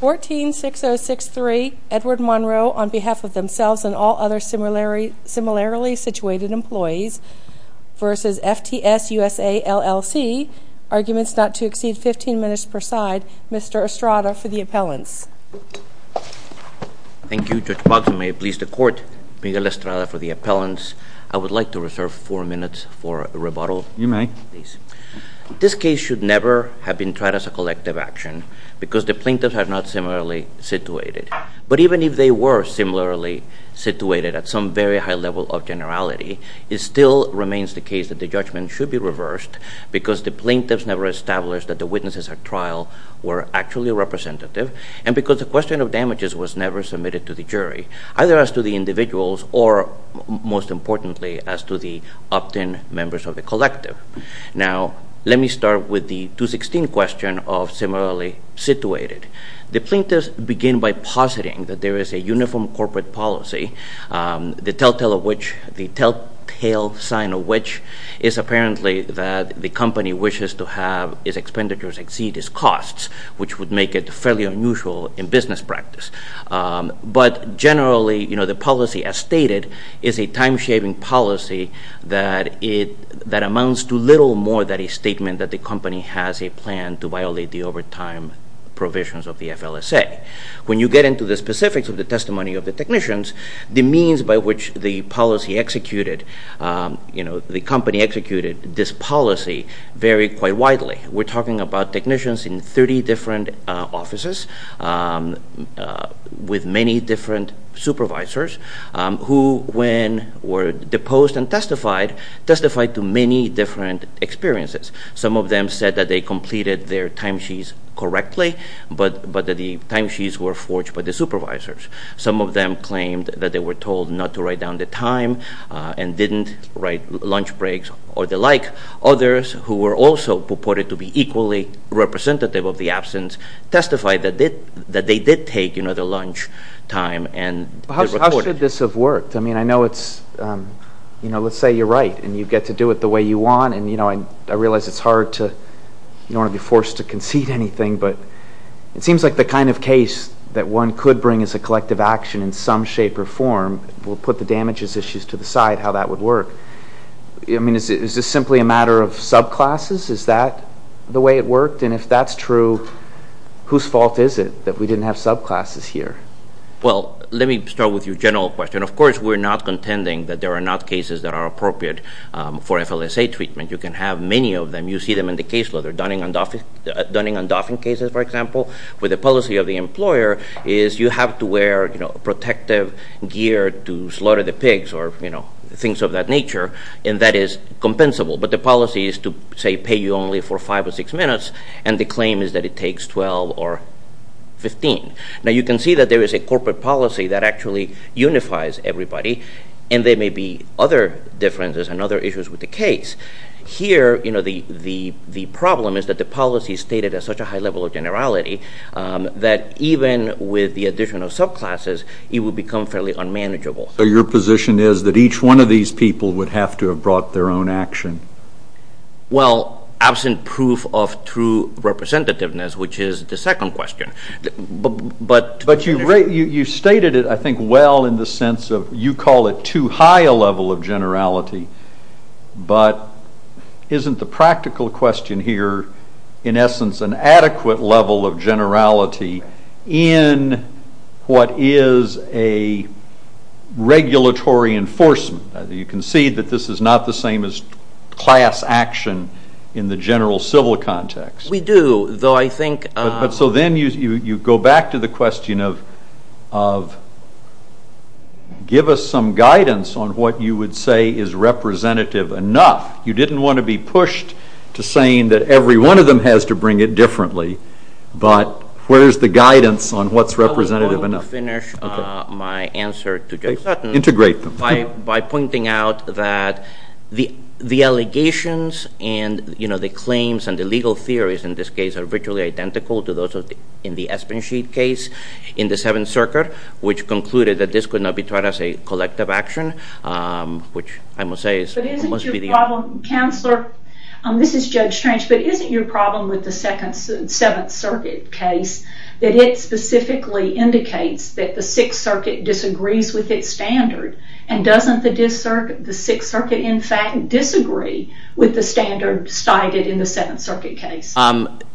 14-6063 Edward Monroe on behalf of themselves and all other similarly situated employees v. FTS USA LLC. Arguments not to exceed 15 minutes per side. Mr. Estrada for the appellants. Thank you Judge Boggs. May it please the Court, Miguel Estrada for the appellants. I would like to reserve 4 minutes for rebuttal. You may. This case should never have been tried as a collective action because the plaintiffs are not similarly situated. But even if they were similarly situated at some very high level of generality, it still remains the case that the judgment should be reversed because the plaintiffs never established that the witnesses at trial were actually representative and because the question of damages was never submitted to the jury, either as to the individuals or, most importantly, as to the opt-in members of the collective. Now, let me start with the 216 question of similarly situated. The plaintiffs begin by positing that there is a uniform corporate policy, the telltale sign of which is apparently that the company wishes to have its expenditures exceed its costs, which would make it fairly unusual in business practice. But generally, the policy as stated is a time-shaving policy that amounts to little more than a statement that the company has a plan to violate the overtime provisions of the FLSA. When you get into the specifics of the testimony of the technicians, the means by which the policy executed, you know, the company executed this policy vary quite widely. We're talking about technicians in 30 different offices with many different supervisors who, when were deposed and testified, testified to many different experiences. Some of them said that they completed their timesheets correctly, but that the timesheets were forged by the supervisors. Some of them claimed that they were told not to write down the time and didn't write lunch breaks or the like. Others, who were also purported to be equally representative of the absence, testified that they did take, you know, the lunch time. How should this have worked? I mean, I know it's, you know, let's say you're right and you get to do it the way you want, and, you know, I realize it's hard to, you don't want to be forced to concede anything, but it seems like the kind of case that one could bring as a collective action in some shape or form will put the damages issues to the side, how that would work. I mean, is this simply a matter of subclasses? Is that the way it worked? And if that's true, whose fault is it that we didn't have subclasses here? Well, let me start with your general question. Of course, we're not contending that there are not cases that are appropriate for FLSA treatment. You can have many of them. You see them in the caseload. The Dunning and Dauphin cases, for example, where the policy of the employer is you have to wear, you know, protective gear to slaughter the pigs or, you know, things of that nature, and that is compensable. But the policy is to, say, pay you only for five or six minutes, and the claim is that it takes 12 or 15. Now, you can see that there is a corporate policy that actually unifies everybody, and there may be other differences and other issues with the case. Here, you know, the problem is that the policy is stated at such a high level of generality that even with the additional subclasses, it would become fairly unmanageable. So your position is that each one of these people would have to have brought their own action? Well, absent proof of true representativeness, which is the second question. But you've stated it, I think, well in the sense of you call it too high a level of generality, but isn't the practical question here, in essence, an adequate level of generality in what is a regulatory enforcement? You can see that this is not the same as class action in the general civil context. We do, though I think... You didn't want to be pushed to saying that every one of them has to bring it differently, but where is the guidance on what's representative enough? I want to finish my answer to Judge Sutton... Integrate them. ...by pointing out that the allegations and, you know, the claims and the legal theories in this case are virtually identical to those in the Espensheet case in the Seventh Circuit, which concluded that this could not be tried as a collective action, which I must say is... But isn't your problem, Counselor, this is Judge Strange, but isn't your problem with the Seventh Circuit case that it specifically indicates that the Sixth Circuit disagrees with its standard, and doesn't the Sixth Circuit, in fact, disagree with the standard cited in the Seventh Circuit case?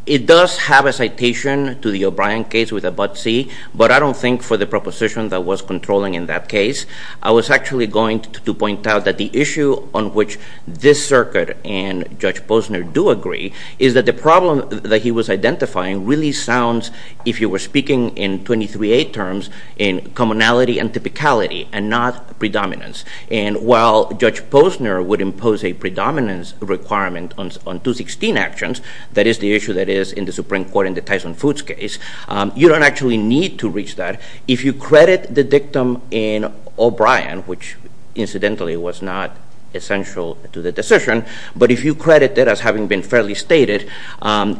It does have a citation to the O'Brien case with a but-see, but I don't think for the proposition that was controlling in that case. I was actually going to point out that the issue on which this circuit and Judge Posner do agree is that the problem that he was identifying really sounds, if you were speaking in 23A terms, in commonality and typicality and not predominance. And while Judge Posner would impose a predominance requirement on 216 actions, that is the issue that is in the Supreme Court in the Tyson Foods case, you don't actually need to reach that. If you credit the dictum in O'Brien, which incidentally was not essential to the decision, but if you credit it as having been fairly stated,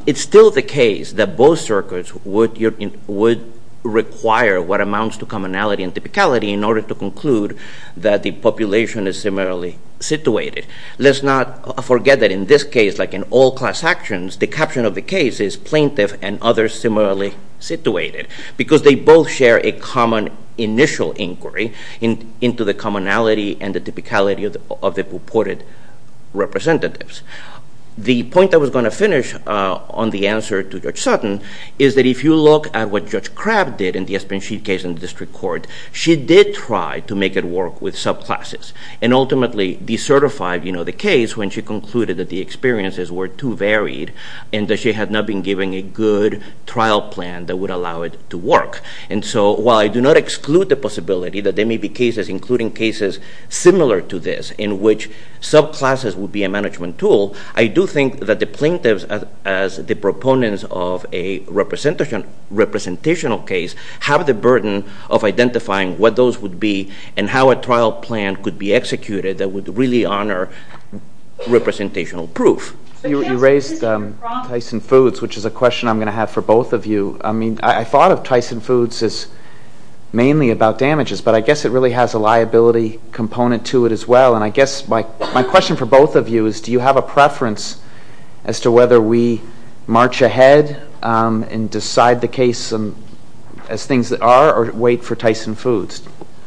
it's still the case that both circuits would require what amounts to commonality and typicality in order to conclude that the population is similarly situated. Let's not forget that in this case, like in all class actions, the caption of the case is plaintiff and others similarly situated, because they both share a common initial inquiry into the commonality and the typicality of the purported representatives. The point I was going to finish on the answer to Judge Sutton is that if you look at what Judge Crabb did in the Espanchit case in the district court, she did try to make it work with subclasses, and ultimately decertified the case when she concluded that the experiences were too varied and that she had not been given a good trial plan that would allow it to work. And so while I do not exclude the possibility that there may be cases, including cases similar to this, in which subclasses would be a management tool, I do think that the plaintiffs, as the proponents of a representational case, have the burden of identifying what those would be and how a trial plan could be executed that would really honor representational proof. You raised Tyson Foods, which is a question I'm going to have for both of you. I mean, I thought of Tyson Foods as mainly about damages, but I guess it really has a liability component to it as well. And I guess my question for both of you is do you have a preference as to whether we march ahead and decide the case as things that are or wait for Tyson Foods?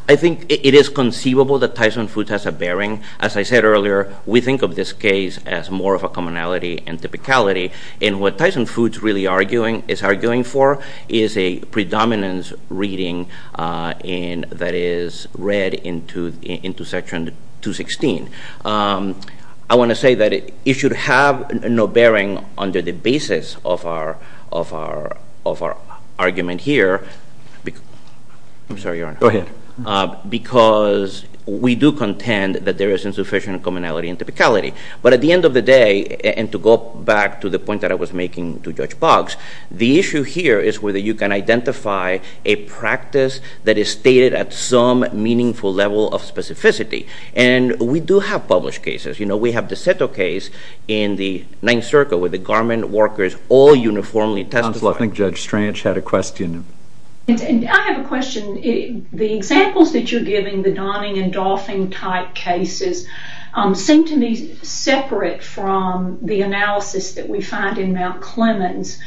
I think it is conceivable that Tyson Foods has a bearing. As I said earlier, we think of this case as more of a commonality and typicality. And what Tyson Foods is arguing for is a predominance reading that is read into Section 216. I want to say that it should have no bearing under the basis of our argument here. I'm sorry, Your Honor. Go ahead. Because we do contend that there is insufficient commonality and typicality. But at the end of the day, and to go back to the point that I was making to Judge Boggs, the issue here is whether you can identify a practice that is stated at some meaningful level of specificity. And we do have published cases. You know, we have the Seto case in the Ninth Circle where the garment workers all uniformly testified. Counsel, I think Judge Stranch had a question. I have a question. The examples that you're giving, the Donning and Dolphin type cases, seem to me separate from the analysis that we find in Mount Clemens.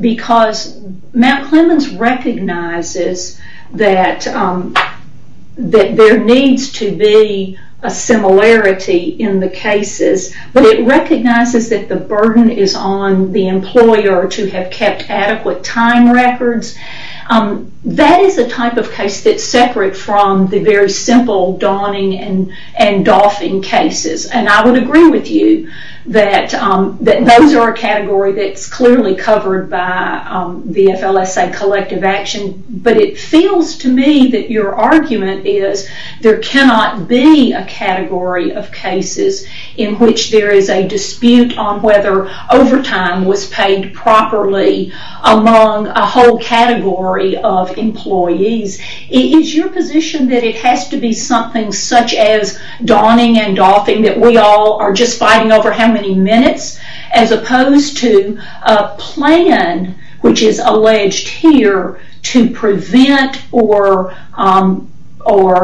Because Mount Clemens recognizes that there needs to be a similarity in the cases, but it recognizes that the burden is on the employer to have kept adequate time records. That is a type of case that's separate from the very simple Donning and Dolphin cases. And I would agree with you that those are a category that's clearly covered by the FLSA collective action. But it feels to me that your argument is there cannot be a category of cases in which there is a dispute on whether overtime was paid properly among a whole category of employees. Is your position that it has to be something such as Donning and Dolphin that we all are just fighting over how many minutes, as opposed to a plan which is alleged here to prevent or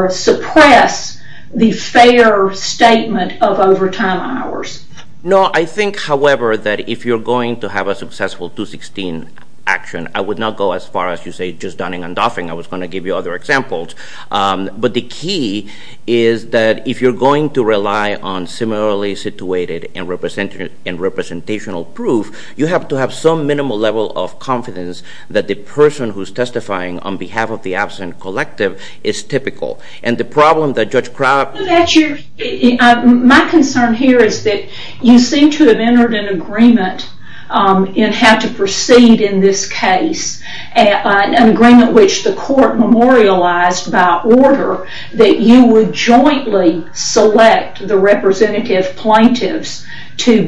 suppress the fair statement of overtime hours? No, I think, however, that if you're going to have a successful 216 action, I would not go as far as you say just Donning and Dolphin. I was going to give you other examples. But the key is that if you're going to rely on similarly situated and representational proof, you have to have some minimal level of confidence that the person who's testifying on behalf of the absent collective is typical. And the problem that Judge Crabb... My concern here is that you seem to have entered an agreement in how to proceed in this case, an agreement which the court memorialized by order, that you would jointly select the representative plaintiffs to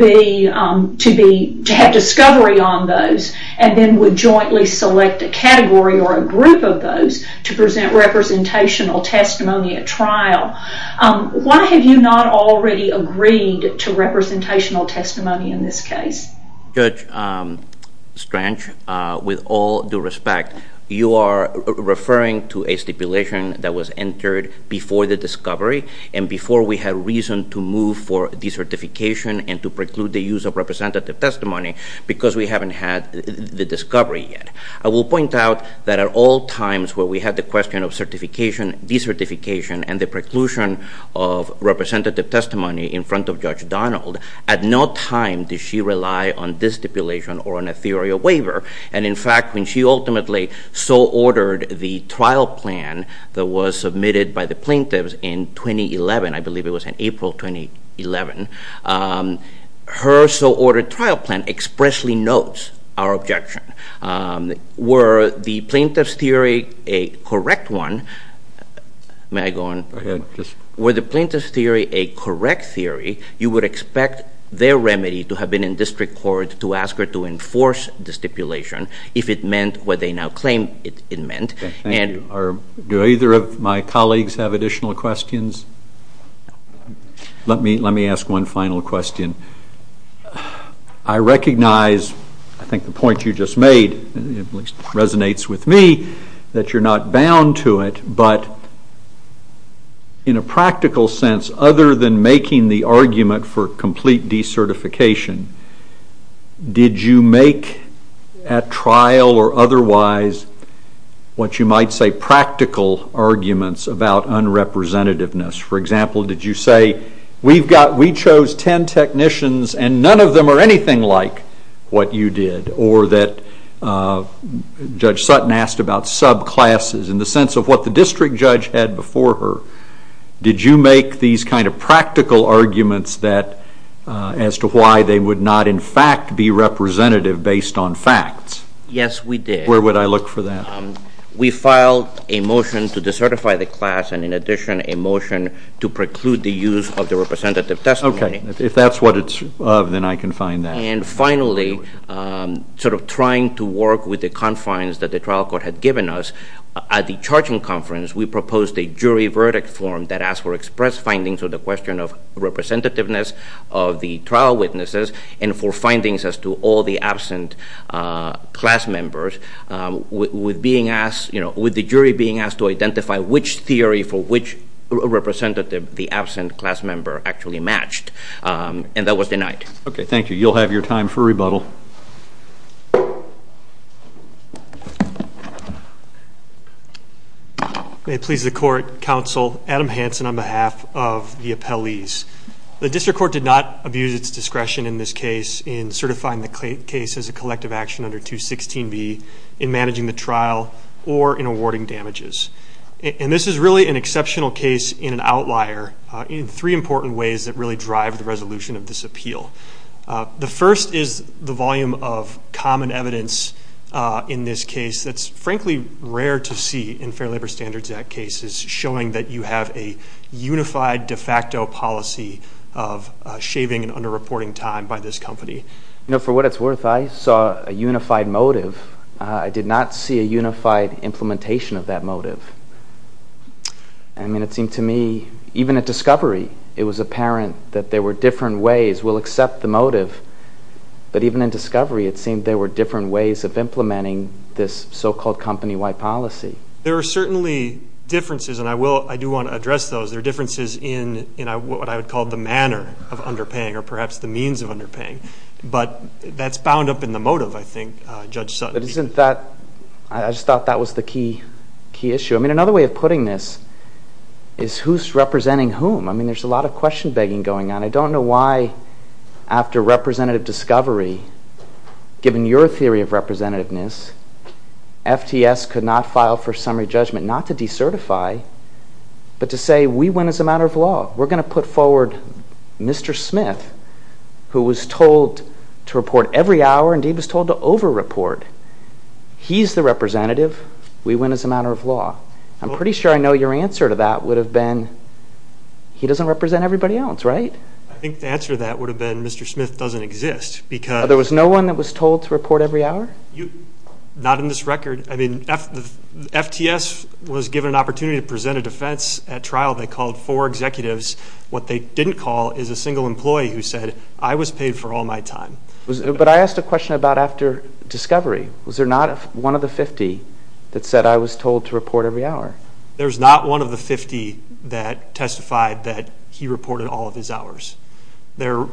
have discovery on those and then would jointly select a category or a group of those to present representational testimony at trial. Why have you not already agreed to representational testimony in this case? Judge Strange, with all due respect, you are referring to a stipulation that was entered before the discovery and before we had reason to move for decertification and to preclude the use of representative testimony because we haven't had the discovery yet. I will point out that at all times where we had the question of certification, decertification, and the preclusion of representative testimony in front of Judge Donald, at no time did she rely on this stipulation or on a theory of waiver. And, in fact, when she ultimately so ordered the trial plan that was submitted by the plaintiffs in 2011, I believe it was in April 2011, her so-ordered trial plan expressly notes our objection. Were the plaintiffs' theory a correct one? May I go on? Go ahead. Were the plaintiffs' theory a correct theory, you would expect their remedy to have been in district court to ask her to enforce the stipulation if it meant what they now claim it meant. Thank you. Do either of my colleagues have additional questions? Let me ask one final question. I recognize, I think the point you just made resonates with me, that you're not bound to it, but in a practical sense, other than making the argument for complete decertification, did you make at trial or otherwise what you might say practical arguments about unrepresentativeness? For example, did you say, we chose ten technicians and none of them are anything like what you did, or that Judge Sutton asked about subclasses in the sense of what the district judge had before her. Did you make these kind of practical arguments as to why they would not, in fact, be representative based on facts? Yes, we did. Where would I look for that? We filed a motion to decertify the class and, in addition, a motion to preclude the use of the representative testimony. Okay. If that's what it's of, then I can find that. And finally, sort of trying to work with the confines that the trial court had given us, at the charging conference we proposed a jury verdict form that asked for express findings on the question of representativeness of the trial witnesses and for findings as to all the absent class members, with the jury being asked to identify which theory for which representative the absent class member actually matched. And that was denied. Okay, thank you. You'll have your time for rebuttal. May it please the Court, Counsel, Adam Hanson on behalf of the appellees. The district court did not abuse its discretion in this case in certifying the case as a collective action under 216B, in managing the trial, or in awarding damages. And this is really an exceptional case in an outlier in three important ways that really drive the resolution of this appeal. The first is the volume of common evidence in this case that's frankly rare to see in Fair Labor Standards Act cases, showing that you have a unified de facto policy of shaving and under-reporting time by this company. You know, for what it's worth, I saw a unified motive. I did not see a unified implementation of that motive. I mean, it seemed to me, even at discovery, it was apparent that there were different ways. We'll accept the motive, but even in discovery it seemed there were different ways of implementing this so-called company-wide policy. There are certainly differences, and I do want to address those. There are differences in what I would call the manner of underpaying or perhaps the means of underpaying. But that's bound up in the motive, I think, Judge Sutton. But isn't that – I just thought that was the key issue. I mean, another way of putting this is who's representing whom. I mean, there's a lot of question-begging going on. I don't know why after representative discovery, given your theory of representativeness, FTS could not file for summary judgment not to decertify but to say we win as a matter of law. We're going to put forward Mr. Smith, who was told to report every hour, and he was told to over-report. He's the representative. We win as a matter of law. I'm pretty sure I know your answer to that would have been he doesn't represent everybody else, right? I think the answer to that would have been Mr. Smith doesn't exist because – There was no one that was told to report every hour? Not in this record. I mean, FTS was given an opportunity to present a defense at trial. They called four executives. What they didn't call is a single employee who said, I was paid for all my time. But I asked a question about after discovery. Was there not one of the 50 that said I was told to report every hour? There's not one of the 50 that testified that he reported all of his hours. There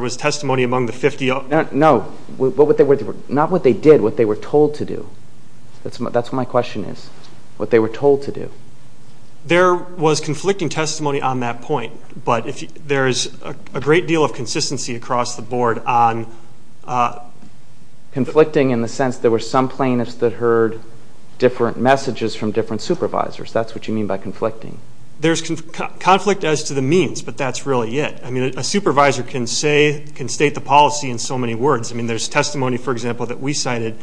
was testimony among the 50 – No, not what they did, what they were told to do. That's what my question is, what they were told to do. There was conflicting testimony on that point, but there is a great deal of consistency across the board on – in the sense there were some plaintiffs that heard different messages from different supervisors. That's what you mean by conflicting. There's conflict as to the means, but that's really it. I mean, a supervisor can say – can state the policy in so many words. I mean, there's testimony, for example, that we cited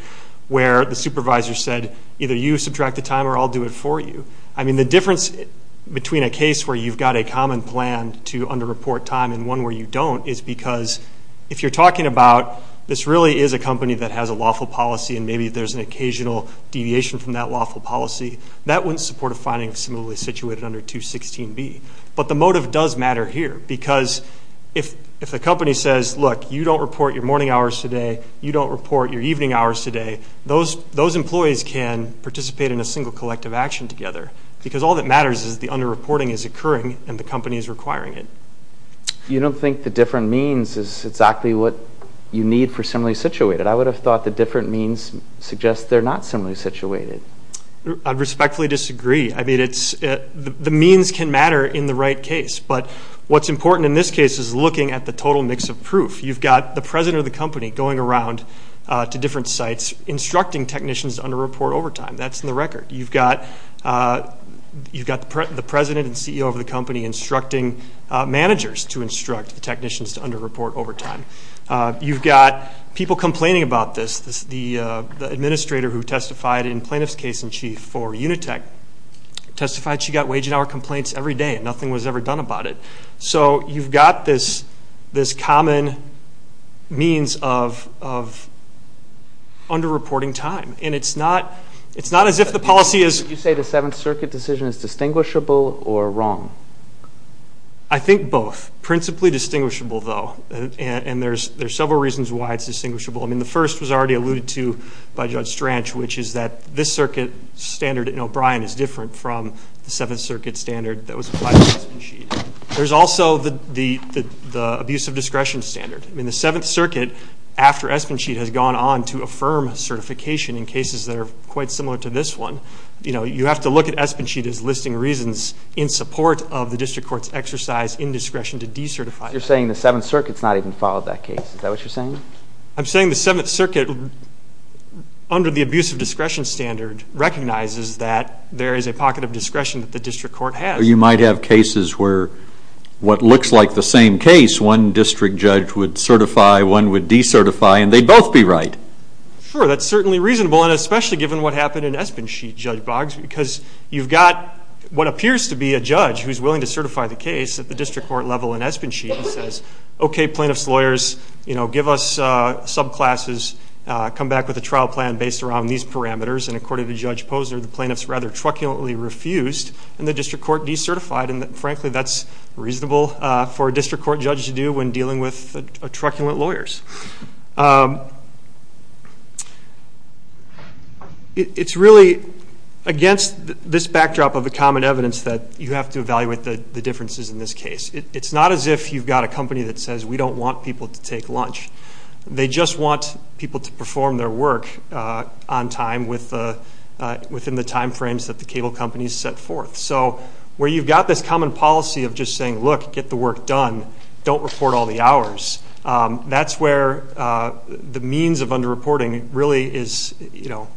where the supervisor said, either you subtract the time or I'll do it for you. I mean, the difference between a case where you've got a common plan to under-report time and one where you don't is because if you're talking about this really is a company that has a lawful policy and maybe there's an occasional deviation from that lawful policy, that wouldn't support a finding of similarly situated under 216B. But the motive does matter here because if a company says, look, you don't report your morning hours today, you don't report your evening hours today, those employees can participate in a single collective action together because all that matters is the under-reporting is occurring and the company is requiring it. You don't think the different means is exactly what you need for similarly situated. I would have thought the different means suggests they're not similarly situated. I respectfully disagree. I mean, the means can matter in the right case, but what's important in this case is looking at the total mix of proof. You've got the president of the company going around to different sites instructing technicians to under-report overtime. That's in the record. You've got the president and CEO of the company instructing managers to instruct the technicians to under-report overtime. You've got people complaining about this. The administrator who testified in plaintiff's case in chief for Unitech testified she got wage and hour complaints every day and nothing was ever done about it. So you've got this common means of under-reporting time. And it's not as if the policy is – Would you say the Seventh Circuit decision is distinguishable or wrong? I think both. Principally distinguishable, though, and there's several reasons why it's distinguishable. I mean, the first was already alluded to by Judge Stranch, which is that this circuit standard in O'Brien is different from the Seventh Circuit standard that was applied to Espensheet. There's also the abuse of discretion standard. I mean, the Seventh Circuit, after Espensheet, has gone on to affirm certification in cases that are quite similar to this one. You have to look at Espensheet as listing reasons in support of the district court's exercise in discretion to decertify. You're saying the Seventh Circuit's not even followed that case. Is that what you're saying? I'm saying the Seventh Circuit, under the abuse of discretion standard, recognizes that there is a pocket of discretion that the district court has. Or you might have cases where what looks like the same case, one district judge would certify, one would decertify, and they'd both be right. Sure, that's certainly reasonable, and especially given what happened in Espensheet, Judge Boggs, because you've got what appears to be a judge who's willing to certify the case at the district court level in Espensheet and says, okay, plaintiff's lawyers, give us subclasses, come back with a trial plan based around these parameters. And according to Judge Posner, the plaintiff's rather truculently refused, and the district court decertified. And, frankly, that's reasonable for a district court judge to do when dealing with truculent lawyers. It's really against this backdrop of the common evidence that you have to evaluate the differences in this case. It's not as if you've got a company that says, we don't want people to take lunch. They just want people to perform their work on time within the time frames that the cable companies set forth. So where you've got this common policy of just saying, look, get the work done, don't report all the hours, that's where the means of underreporting really is, you know,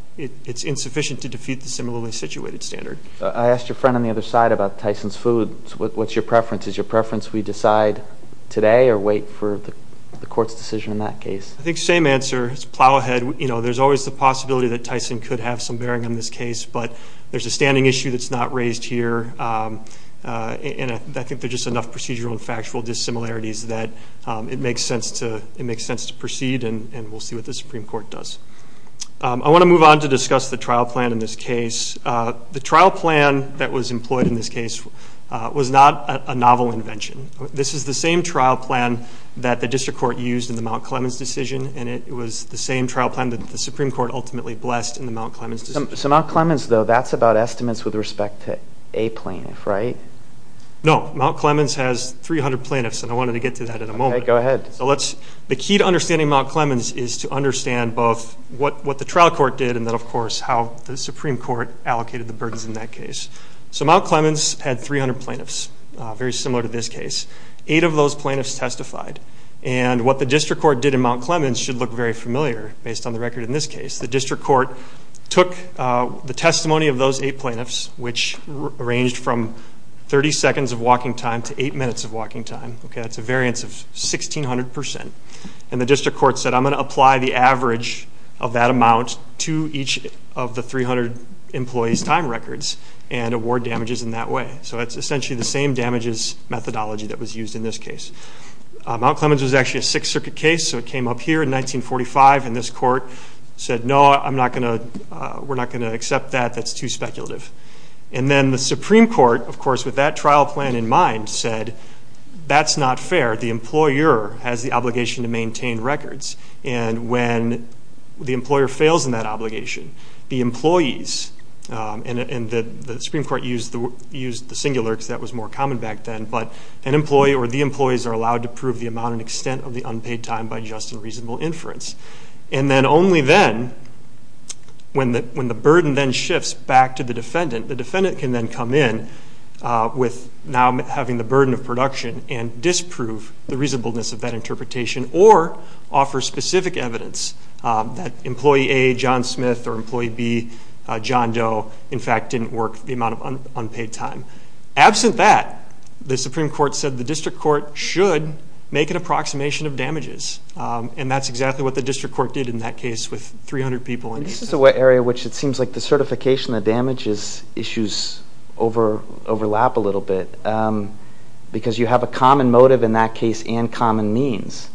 it's insufficient to defeat the similarly situated standard. I asked your friend on the other side about Tyson's food. What's your preference? Is your preference we decide today or wait for the court's decision in that case? I think the same answer is plow ahead. You know, there's always the possibility that Tyson could have some bearing on this case, but there's a standing issue that's not raised here, and I think there's just enough procedural and factual dissimilarities that it makes sense to proceed, and we'll see what the Supreme Court does. I want to move on to discuss the trial plan in this case. The trial plan that was employed in this case was not a novel invention. This is the same trial plan that the district court used in the Mount Clemens decision, and it was the same trial plan that the Supreme Court ultimately blessed in the Mount Clemens decision. So Mount Clemens, though, that's about estimates with respect to a plaintiff, right? No. Mount Clemens has 300 plaintiffs, and I wanted to get to that in a moment. Okay. Go ahead. The key to understanding Mount Clemens is to understand both what the trial court did and then, of course, how the Supreme Court allocated the burdens in that case. So Mount Clemens had 300 plaintiffs, very similar to this case. Eight of those plaintiffs testified, and what the district court did in Mount Clemens should look very familiar based on the record in this case. The district court took the testimony of those eight plaintiffs, which ranged from 30 seconds of walking time to eight minutes of walking time. Okay, that's a variance of 1,600 percent, and the district court said, I'm going to apply the average of that amount to each of the 300 employees' time records and award damages in that way. So that's essentially the same damages methodology that was used in this case. Mount Clemens was actually a Sixth Circuit case, so it came up here in 1945, and this court said, No, we're not going to accept that. That's too speculative. And then the Supreme Court, of course, with that trial plan in mind, said, That's not fair. The employer has the obligation to maintain records, and when the employer fails in that obligation, the employees, and the Supreme Court used the singular because that was more common back then, but an employee or the employees are allowed to prove the amount and extent of the unpaid time by just and reasonable inference. And then only then, when the burden then shifts back to the defendant, the defendant can then come in with now having the burden of production and disprove the reasonableness of that interpretation or offer specific evidence that employee A, John Smith, or employee B, John Doe, in fact, didn't work the amount of unpaid time. Absent that, the Supreme Court said the district court should make an approximation of damages, and that's exactly what the district court did in that case with 300 people. This is the area which it seems like the certification of damages issues overlap a little bit because you have a common motive in that case and common means.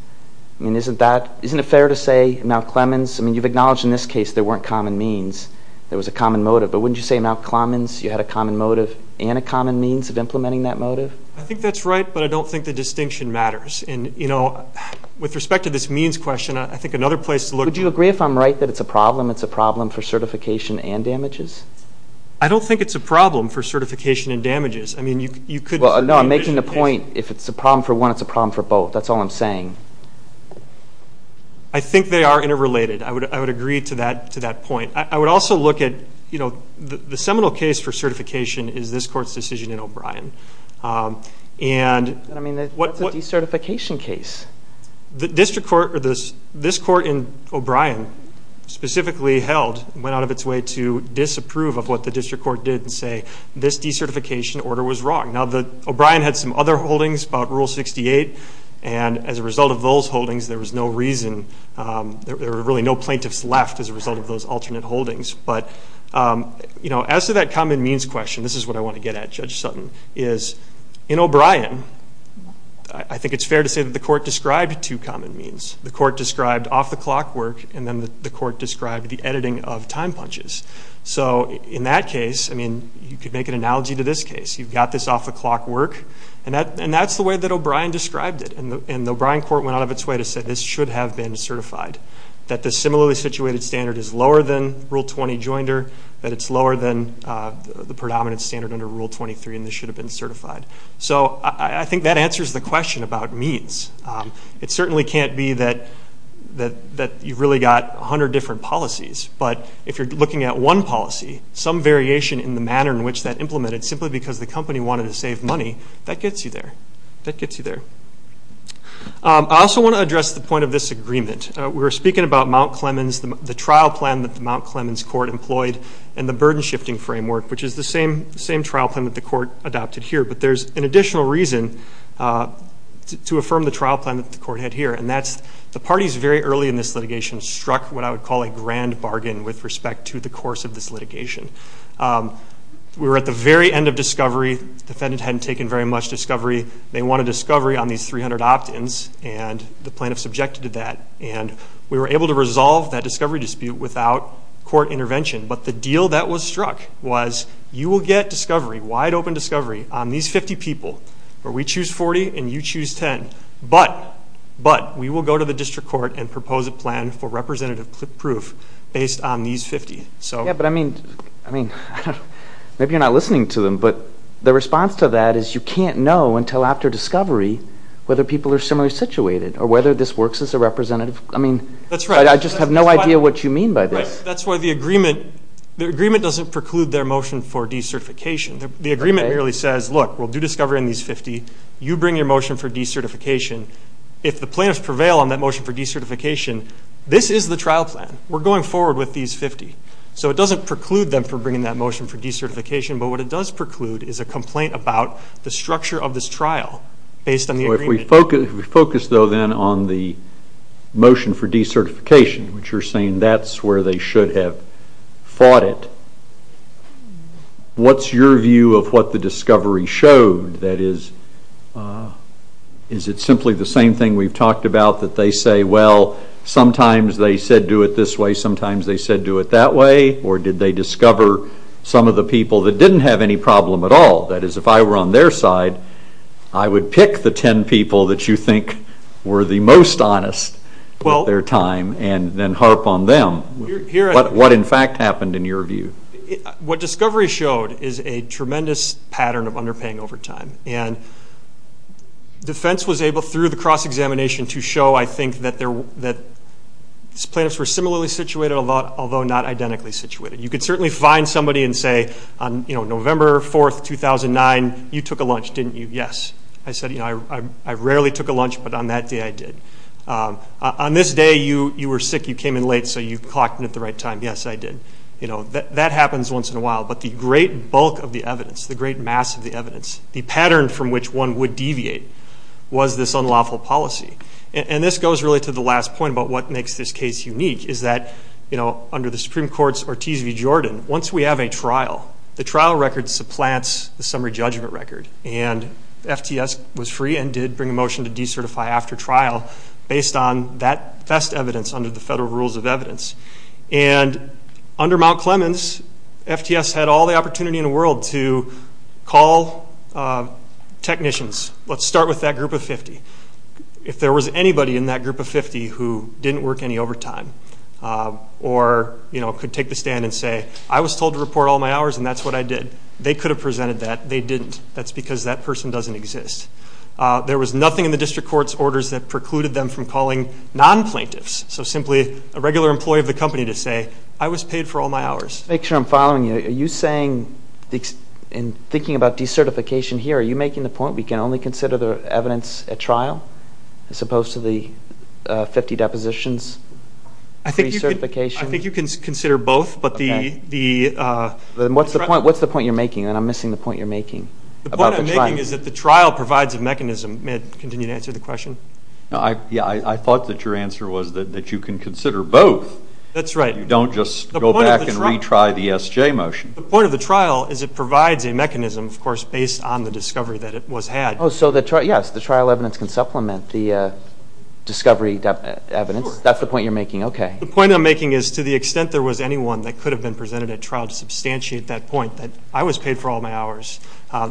I mean, isn't it fair to say Mount Clemens? I mean, you've acknowledged in this case there weren't common means, there was a common motive, but wouldn't you say in Mount Clemens you had a common motive and a common means of implementing that motive? I think that's right, but I don't think the distinction matters. And, you know, with respect to this means question, I think another place to look is I think if I'm right that it's a problem, it's a problem for certification and damages. I don't think it's a problem for certification and damages. I mean, you could make a distinction. Well, no, I'm making the point if it's a problem for one, it's a problem for both. That's all I'm saying. I think they are interrelated. I would agree to that point. I would also look at, you know, the seminal case for certification is this Court's decision in O'Brien. I mean, what's a decertification case? This Court in O'Brien specifically held, went out of its way to disapprove of what the district court did and say this decertification order was wrong. Now, O'Brien had some other holdings about Rule 68, and as a result of those holdings, there was no reason, there were really no plaintiffs left as a result of those alternate holdings. But, you know, as to that common means question, this is what I want to get at, Judge Sutton, is in O'Brien, I think it's fair to say that the Court described two common means. The Court described off-the-clock work, and then the Court described the editing of time punches. So in that case, I mean, you could make an analogy to this case. You've got this off-the-clock work, and that's the way that O'Brien described it. And the O'Brien Court went out of its way to say this should have been certified, that the similarly situated standard is lower than Rule 20 joinder, that it's lower than the predominant standard under Rule 23, and this should have been certified. So I think that answers the question about means. It certainly can't be that you've really got 100 different policies, but if you're looking at one policy, some variation in the manner in which that implemented, simply because the company wanted to save money, that gets you there. That gets you there. I also want to address the point of this agreement. We were speaking about Mount Clemens, the trial plan that the Mount Clemens Court employed, and the burden-shifting framework, which is the same trial plan that the Court adopted here. But there's an additional reason to affirm the trial plan that the Court had here, and that's the parties very early in this litigation struck what I would call a grand bargain with respect to the course of this litigation. We were at the very end of discovery. The defendant hadn't taken very much discovery. They wanted discovery on these 300 opt-ins, and the plaintiff subjected to that. And we were able to resolve that discovery dispute without court intervention. But the deal that was struck was you will get discovery, wide-open discovery, on these 50 people where we choose 40 and you choose 10, but we will go to the district court and propose a plan for representative proof based on these 50. Yeah, but I mean, maybe you're not listening to them, but the response to that is you can't know until after discovery whether people are similarly situated or whether this works as a representative. I mean, I just have no idea what you mean by this. That's why the agreement doesn't preclude their motion for decertification. The agreement merely says, look, we'll do discovery on these 50. You bring your motion for decertification. If the plaintiffs prevail on that motion for decertification, this is the trial plan. We're going forward with these 50. So it doesn't preclude them from bringing that motion for decertification, but what it does preclude is a complaint about the structure of this trial based on the agreement. If we focus, though, then on the motion for decertification, which you're saying that's where they should have fought it, what's your view of what the discovery showed? That is, is it simply the same thing we've talked about that they say, well, sometimes they said do it this way, sometimes they said do it that way, or did they discover some of the people that didn't have any problem at all? That is, if I were on their side, I would pick the 10 people that you think were the most honest at their time and then harp on them. What, in fact, happened in your view? What discovery showed is a tremendous pattern of underpaying over time, and defense was able through the cross-examination to show, I think, that plaintiffs were similarly situated, although not identically situated. You could certainly find somebody and say, on November 4, 2009, you took a lunch, didn't you? Yes. I said, I rarely took a lunch, but on that day I did. On this day, you were sick, you came in late, so you clocked in at the right time. Yes, I did. That happens once in a while, but the great bulk of the evidence, the great mass of the evidence, the pattern from which one would deviate was this unlawful policy. This goes really to the last point about what makes this case unique, is that under the Supreme Court's Ortiz v. Jordan, once we have a trial, the trial record supplants the summary judgment record. FTS was free and did bring a motion to decertify after trial based on that best evidence under the federal rules of evidence. Under Mount Clemens, FTS had all the opportunity in the world to call technicians. Let's start with that group of 50. If there was anybody in that group of 50 who didn't work any overtime or could take the stand and say, I was told to report all my hours and that's what I did, they could have presented that. They didn't. That's because that person doesn't exist. There was nothing in the district court's orders that precluded them from calling non-plaintiffs, so simply a regular employee of the company to say, I was paid for all my hours. To make sure I'm following you, are you saying in thinking about decertification here, are you making the point we can only consider the evidence at trial as opposed to the 50 depositions? I think you can consider both. What's the point you're making? I'm missing the point you're making. The point I'm making is that the trial provides a mechanism. May I continue to answer the question? I thought that your answer was that you can consider both. That's right. You don't just go back and retry the SJ motion. The point of the trial is it provides a mechanism, of course, based on the discovery that it was had. Yes, the trial evidence can supplement the discovery evidence. That's the point you're making. The point I'm making is to the extent there was anyone that could have been presented at trial to substantiate that point that I was paid for all my hours,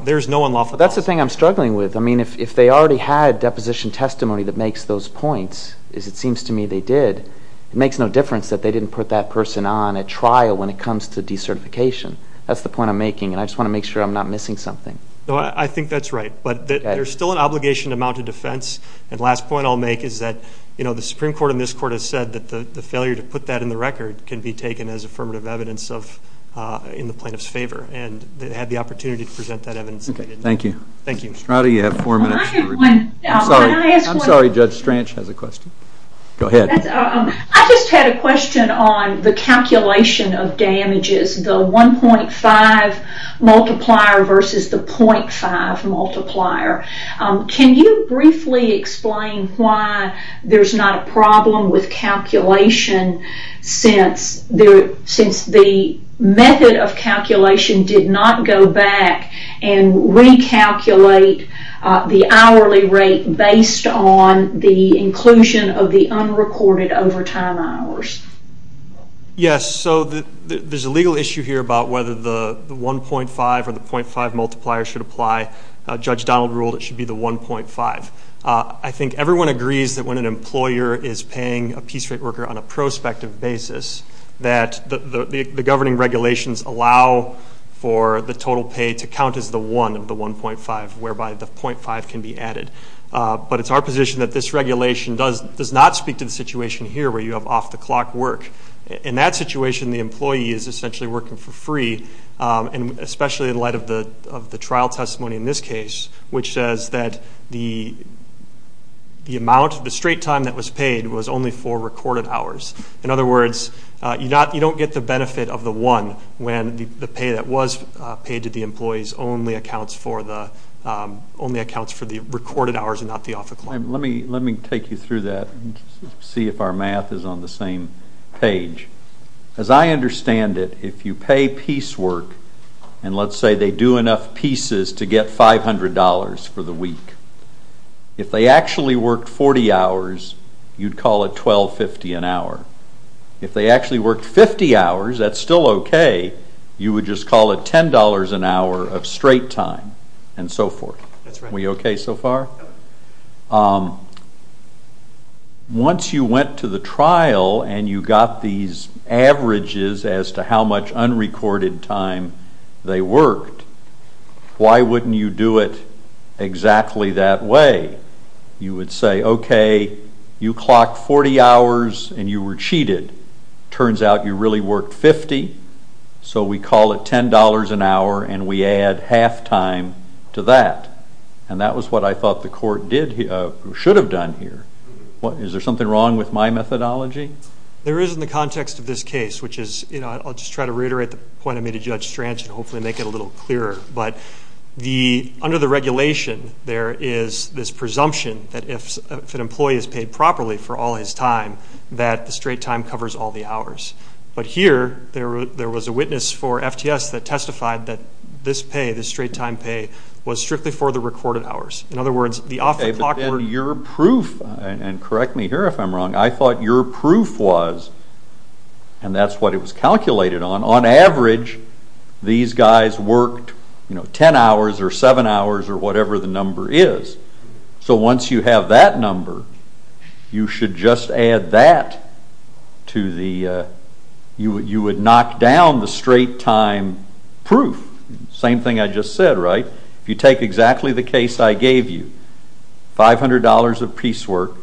there's no unlawful cause. That's the thing I'm struggling with. If they already had deposition testimony that makes those points, as it seems to me they did, it makes no difference that they didn't put that person on at trial when it comes to decertification. That's the point I'm making, and I just want to make sure I'm not missing something. I think that's right, but there's still an obligation to mount a defense, and the last point I'll make is that the Supreme Court and this Court have said that the failure to put that in the record can be taken as affirmative evidence in the plaintiff's favor, and they had the opportunity to present that evidence. Thank you. Thank you. Mr. Strada, you have four minutes. I'm sorry, Judge Stranch has a question. Go ahead. I just had a question on the calculation of damages, the 1.5 multiplier versus the 0.5 multiplier. Can you briefly explain why there's not a problem with calculation since the method of calculation did not go back and recalculate the hourly rate based on the inclusion of the unrecorded overtime hours? Yes, so there's a legal issue here about whether the 1.5 or the 0.5 multiplier should apply. Judge Donald ruled it should be the 1.5. I think everyone agrees that when an employer is paying a piece rate worker on a prospective basis, that the governing regulations allow for the total pay to count as the 1 of the 1.5, whereby the 0.5 can be added. But it's our position that this regulation does not speak to the situation here where you have off-the-clock work. In that situation, the employee is essentially working for free, especially in light of the trial testimony in this case, which says that the amount of the straight time that was paid was only for recorded hours. In other words, you don't get the benefit of the 1 when the pay that was paid to the employees only accounts for the recorded hours and not the off-the-clock. Let me take you through that and see if our math is on the same page. As I understand it, if you pay piece work, and let's say they do enough pieces to get $500 for the week, if they actually worked 40 hours, you'd call it $12.50 an hour. If they actually worked 50 hours, that's still okay. You would just call it $10 an hour of straight time and so forth. We okay so far? Once you went to the trial and you got these averages as to how much unrecorded time they worked, why wouldn't you do it exactly that way? You would say, okay, you clocked 40 hours and you were cheated. It turns out you really worked 50, so we call it $10 an hour and we add half-time to that. And that was what I thought the court should have done here. Is there something wrong with my methodology? There is in the context of this case, which is, you know, I'll just try to reiterate the point I made to Judge Strange and hopefully make it a little clearer. But under the regulation, there is this presumption that if an employee is paid properly for all his time, that the straight time covers all the hours. But here, there was a witness for FTS that testified that this pay, this straight time pay, was strictly for the recorded hours. In other words, the off the clock work. Okay, but then your proof, and correct me here if I'm wrong, I thought your proof was, and that's what it was calculated on, on average these guys worked, you know, 10 hours or 7 hours or whatever the number is. So once you have that number, you should just add that to the, you would knock down the straight time proof. Same thing I just said, right? If you take exactly the case I gave you, $500 of piecework,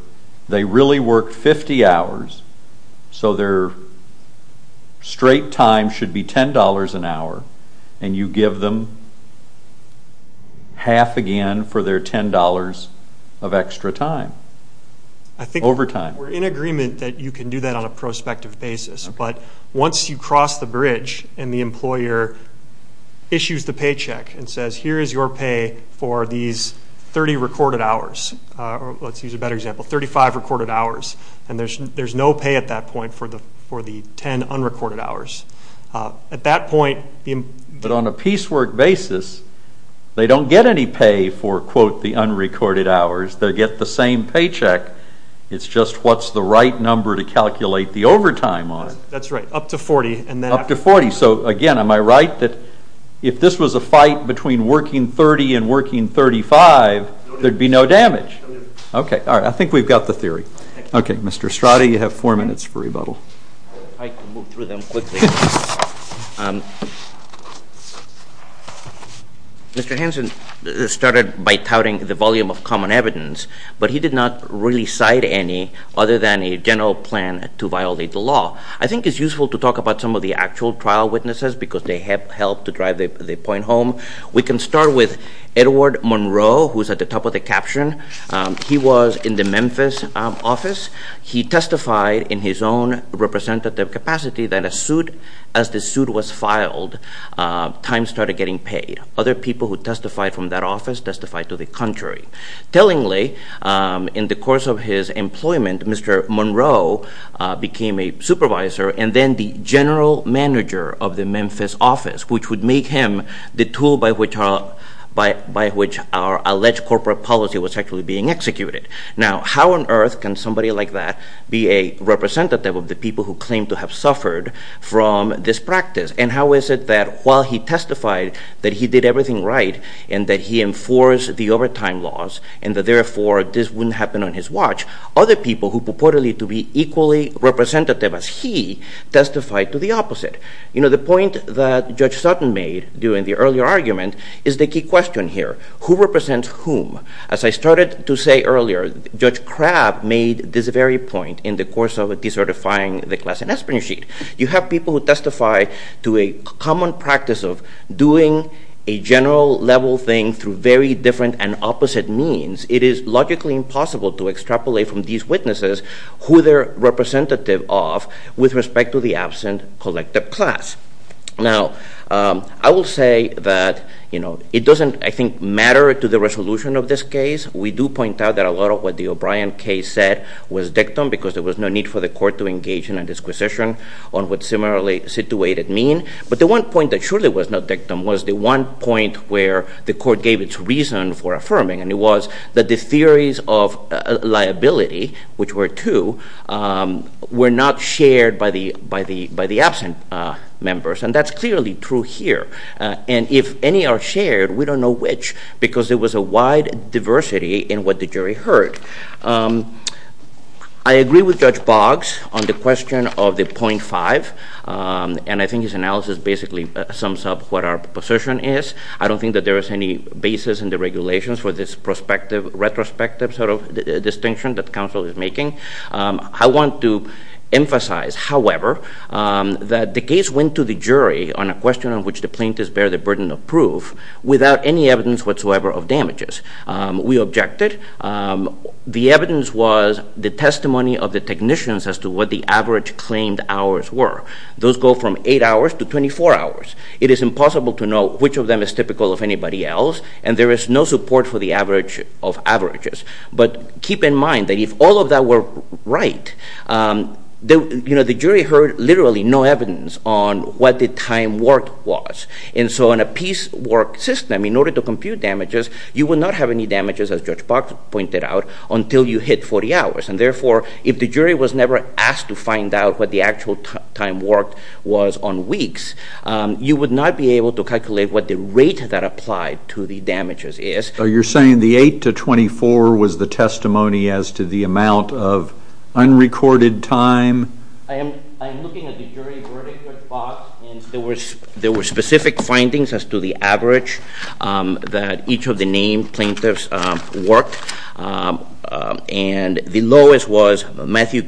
they really worked 50 hours, so their straight time should be $10 an hour, and you give them half again for their $10 of extra time, overtime. I think we're in agreement that you can do that on a prospective basis, but once you cross the bridge and the employer issues the paycheck and says, here is your pay for these 30 recorded hours, or let's use a better example, 35 recorded hours, and there's no pay at that point for the 10 unrecorded hours. At that point, the employer- But on a piecework basis, they don't get any pay for, quote, the unrecorded hours. They'll get the same paycheck. It's just what's the right number to calculate the overtime on. That's right, up to 40. Up to 40. So, again, am I right that if this was a fight between working 30 and working 35, there'd be no damage? Okay. All right. I think we've got the theory. Okay. Mr. Estrada, you have four minutes for rebuttal. I'll try to move through them quickly. Mr. Hanson started by touting the volume of common evidence, but he did not really cite any other than a general plan to violate the law. I think it's useful to talk about some of the actual trial witnesses because they helped to drive the point home. We can start with Edward Monroe, who's at the top of the caption. He was in the Memphis office. He testified in his own representative capacity that as the suit was filed, time started getting paid. Other people who testified from that office testified to the contrary. Tellingly, in the course of his employment, Mr. Monroe became a supervisor and then the general manager of the Memphis office, which would make him the tool by which our alleged corporate policy was actually being executed. Now, how on earth can somebody like that be a representative of the people who claim to have suffered from this practice? And how is it that while he testified that he did everything right and that he enforced the overtime laws and that, therefore, this wouldn't happen on his watch, other people who purportedly to be equally representative as he testified to the opposite? You know, the point that Judge Sutton made during the earlier argument is the key question here. Who represents whom? As I started to say earlier, Judge Crabb made this very point in the course of decertifying the class and espionage sheet. You have people who testify to a common practice of doing a general level thing through very different and opposite means. It is logically impossible to extrapolate from these witnesses who they're representative of with respect to the absent collective class. Now, I will say that, you know, it doesn't, I think, matter to the resolution of this case. We do point out that a lot of what the O'Brien case said was dictum because there was no need for the court to engage in a disquisition on what similarly situated mean. But the one point that surely was not dictum was the one point where the court gave its reason for affirming, and it was that the theories of liability, which were two, were not shared by the absent members. And that's clearly true here. And if any are shared, we don't know which because there was a wide diversity in what the jury heard. I agree with Judge Boggs on the question of the point five, and I think his analysis basically sums up what our position is. I don't think that there is any basis in the regulations for this retrospective sort of distinction that counsel is making. I want to emphasize, however, that the case went to the jury on a question on which the plaintiffs bear the burden of proof without any evidence whatsoever of damages. We objected. The evidence was the testimony of the technicians as to what the average claimed hours were. Those go from eight hours to 24 hours. It is impossible to know which of them is typical of anybody else, and there is no support for the average of averages. But keep in mind that if all of that were right, you know, the jury heard literally no evidence on what the time worked was. And so in a piecework system, in order to compute damages, you would not have any damages, as Judge Boggs pointed out, until you hit 40 hours. And therefore, if the jury was never asked to find out what the actual time worked was on weeks, you would not be able to calculate what the rate that applied to the damages is. So you're saying the eight to 24 was the testimony as to the amount of unrecorded time? I am looking at the jury verdict with Boggs, and there were specific findings as to the average that each of the named plaintiffs worked. And the lowest was Matthew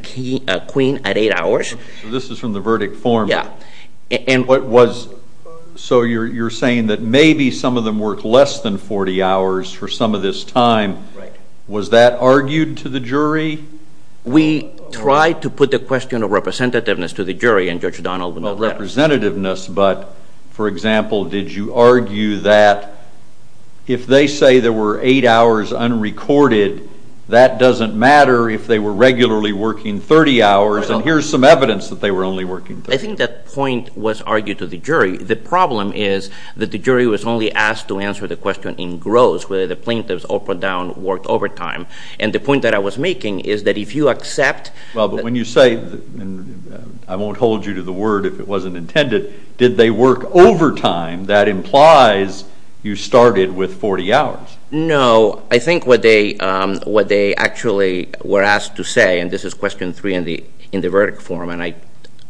Queen at eight hours. So this is from the verdict form? Yeah. So you're saying that maybe some of them worked less than 40 hours for some of this time. Was that argued to the jury? We tried to put the question of representativeness to the jury, and Judge Donald would not let us. Well, representativeness, but, for example, did you argue that if they say there were eight hours unrecorded, that doesn't matter if they were regularly working 30 hours, and here's some evidence that they were only working 30 hours. Well, I think that point was argued to the jury. The problem is that the jury was only asked to answer the question in gross whether the plaintiffs up or down worked overtime. And the point that I was making is that if you accept— Well, but when you say, and I won't hold you to the word if it wasn't intended, did they work overtime, that implies you started with 40 hours. No. So I think what they actually were asked to say, and this is question three in the verdict form, and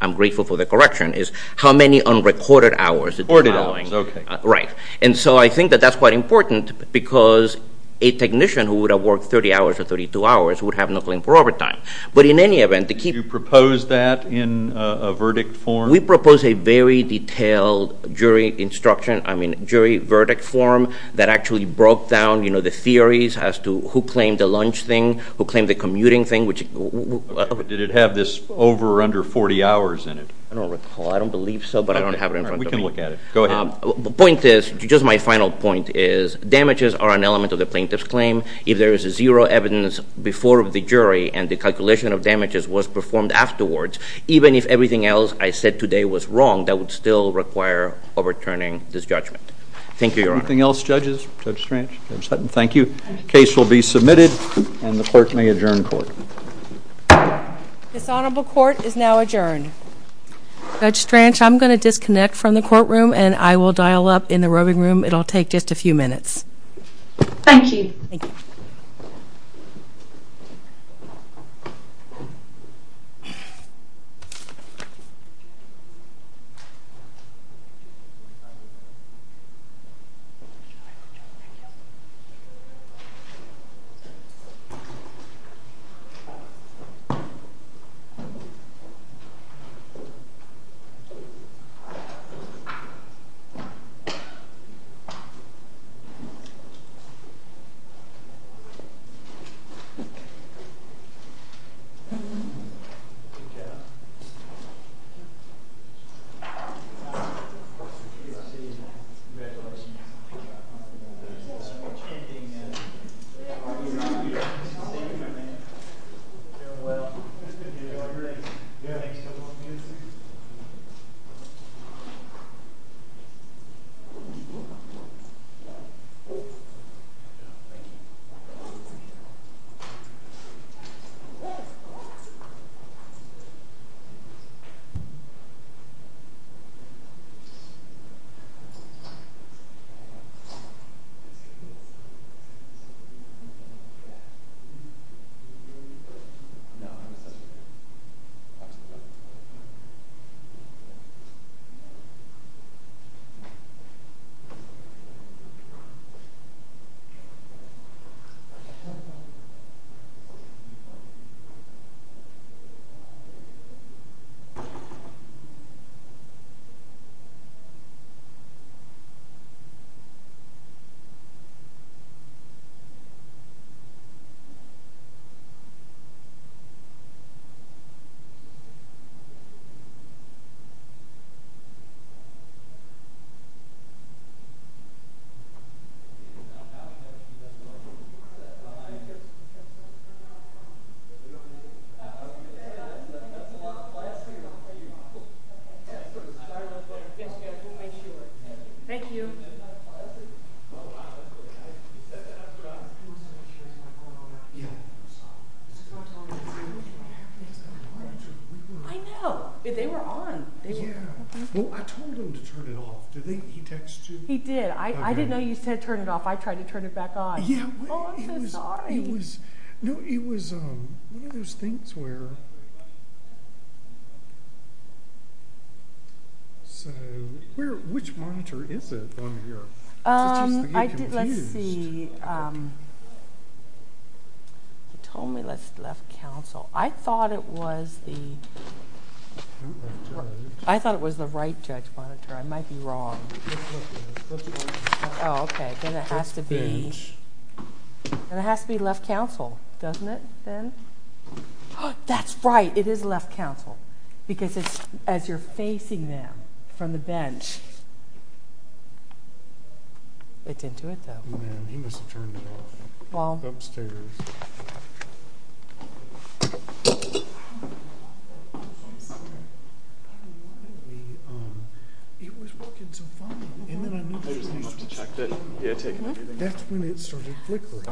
I'm grateful for the correction, is how many unrecorded hours. Unrecorded hours, okay. Right. And so I think that that's quite important because a technician who would have worked 30 hours or 32 hours would have no claim for overtime. But in any event— Did you propose that in a verdict form? We proposed a very detailed jury instruction, I mean jury verdict form that actually broke down, you know, the theories as to who claimed the lunch thing, who claimed the commuting thing, which— Did it have this over or under 40 hours in it? I don't recall. I don't believe so, but I don't have it in front of me. All right. We can look at it. Go ahead. The point is, just my final point is, damages are an element of the plaintiff's claim. If there is zero evidence before the jury and the calculation of damages was performed afterwards, even if everything else I said today was wrong, that would still require overturning this judgment. Thank you, Your Honor. Anything else, judges? Judge Stranch? Judge Hutton? Thank you. The case will be submitted, and the clerk may adjourn court. This honorable court is now adjourned. Judge Stranch, I'm going to disconnect from the courtroom, and I will dial up in the roving room. It will take just a few minutes. Thank you. Thank you. Thank you. Thank you. Thank you. Congratulations. Thank you. Congratulations. Congratulations. Congratulations. Congratulations. Congratulations. You guys did well. I know! They were on. Did he text you? He did. I didn't know you said turn it off. I tried to turn it back on. Yeah. Oh, I'm so sorry. No, it was, um, one of those things where, so, where, which monitor is it on your, it's just that you're confused. Um, I did, let's see, um, he told me let's left counsel. I thought it was the, I thought it was the right judge monitor. I might be wrong. Oh, okay. And it has to be, and it has to be left counsel, doesn't it, then? That's right. It is left counsel. Because it's, as you're facing them from the bench. It didn't do it, though. Man, he must have turned it off. Well. Upstairs.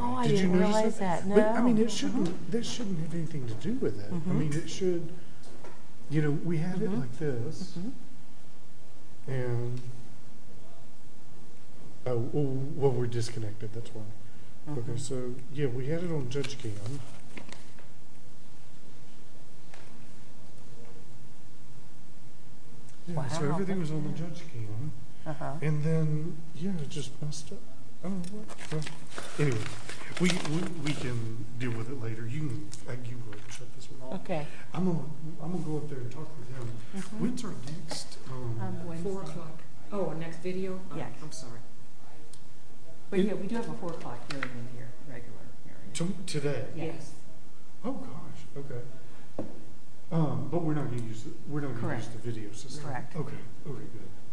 Oh, I didn't realize that, no. I mean, it shouldn't, this shouldn't have anything to do with it. I mean, it should, you know, we had it like this, and, oh, well, we're disconnected, that's why. Okay. So, yeah, we had it on judge cam. Wow. So, everything was on the judge cam. Uh-huh. And then, yeah, it just messed up. Anyway, we can deal with it later. You can, like, you go ahead and shut this one off. Okay. I'm going to, I'm going to go up there and talk to them. When's our next, um... Four o'clock. Yeah. I'm sorry. But, yeah, we do have a four o'clock. Okay. What are you talking about? You're talking about today? Yes. Oh, gosh. Okay. Um, but, we're not going to use the, we're not going to use the video system. Correct. Okay. Okay, good. Okay, good.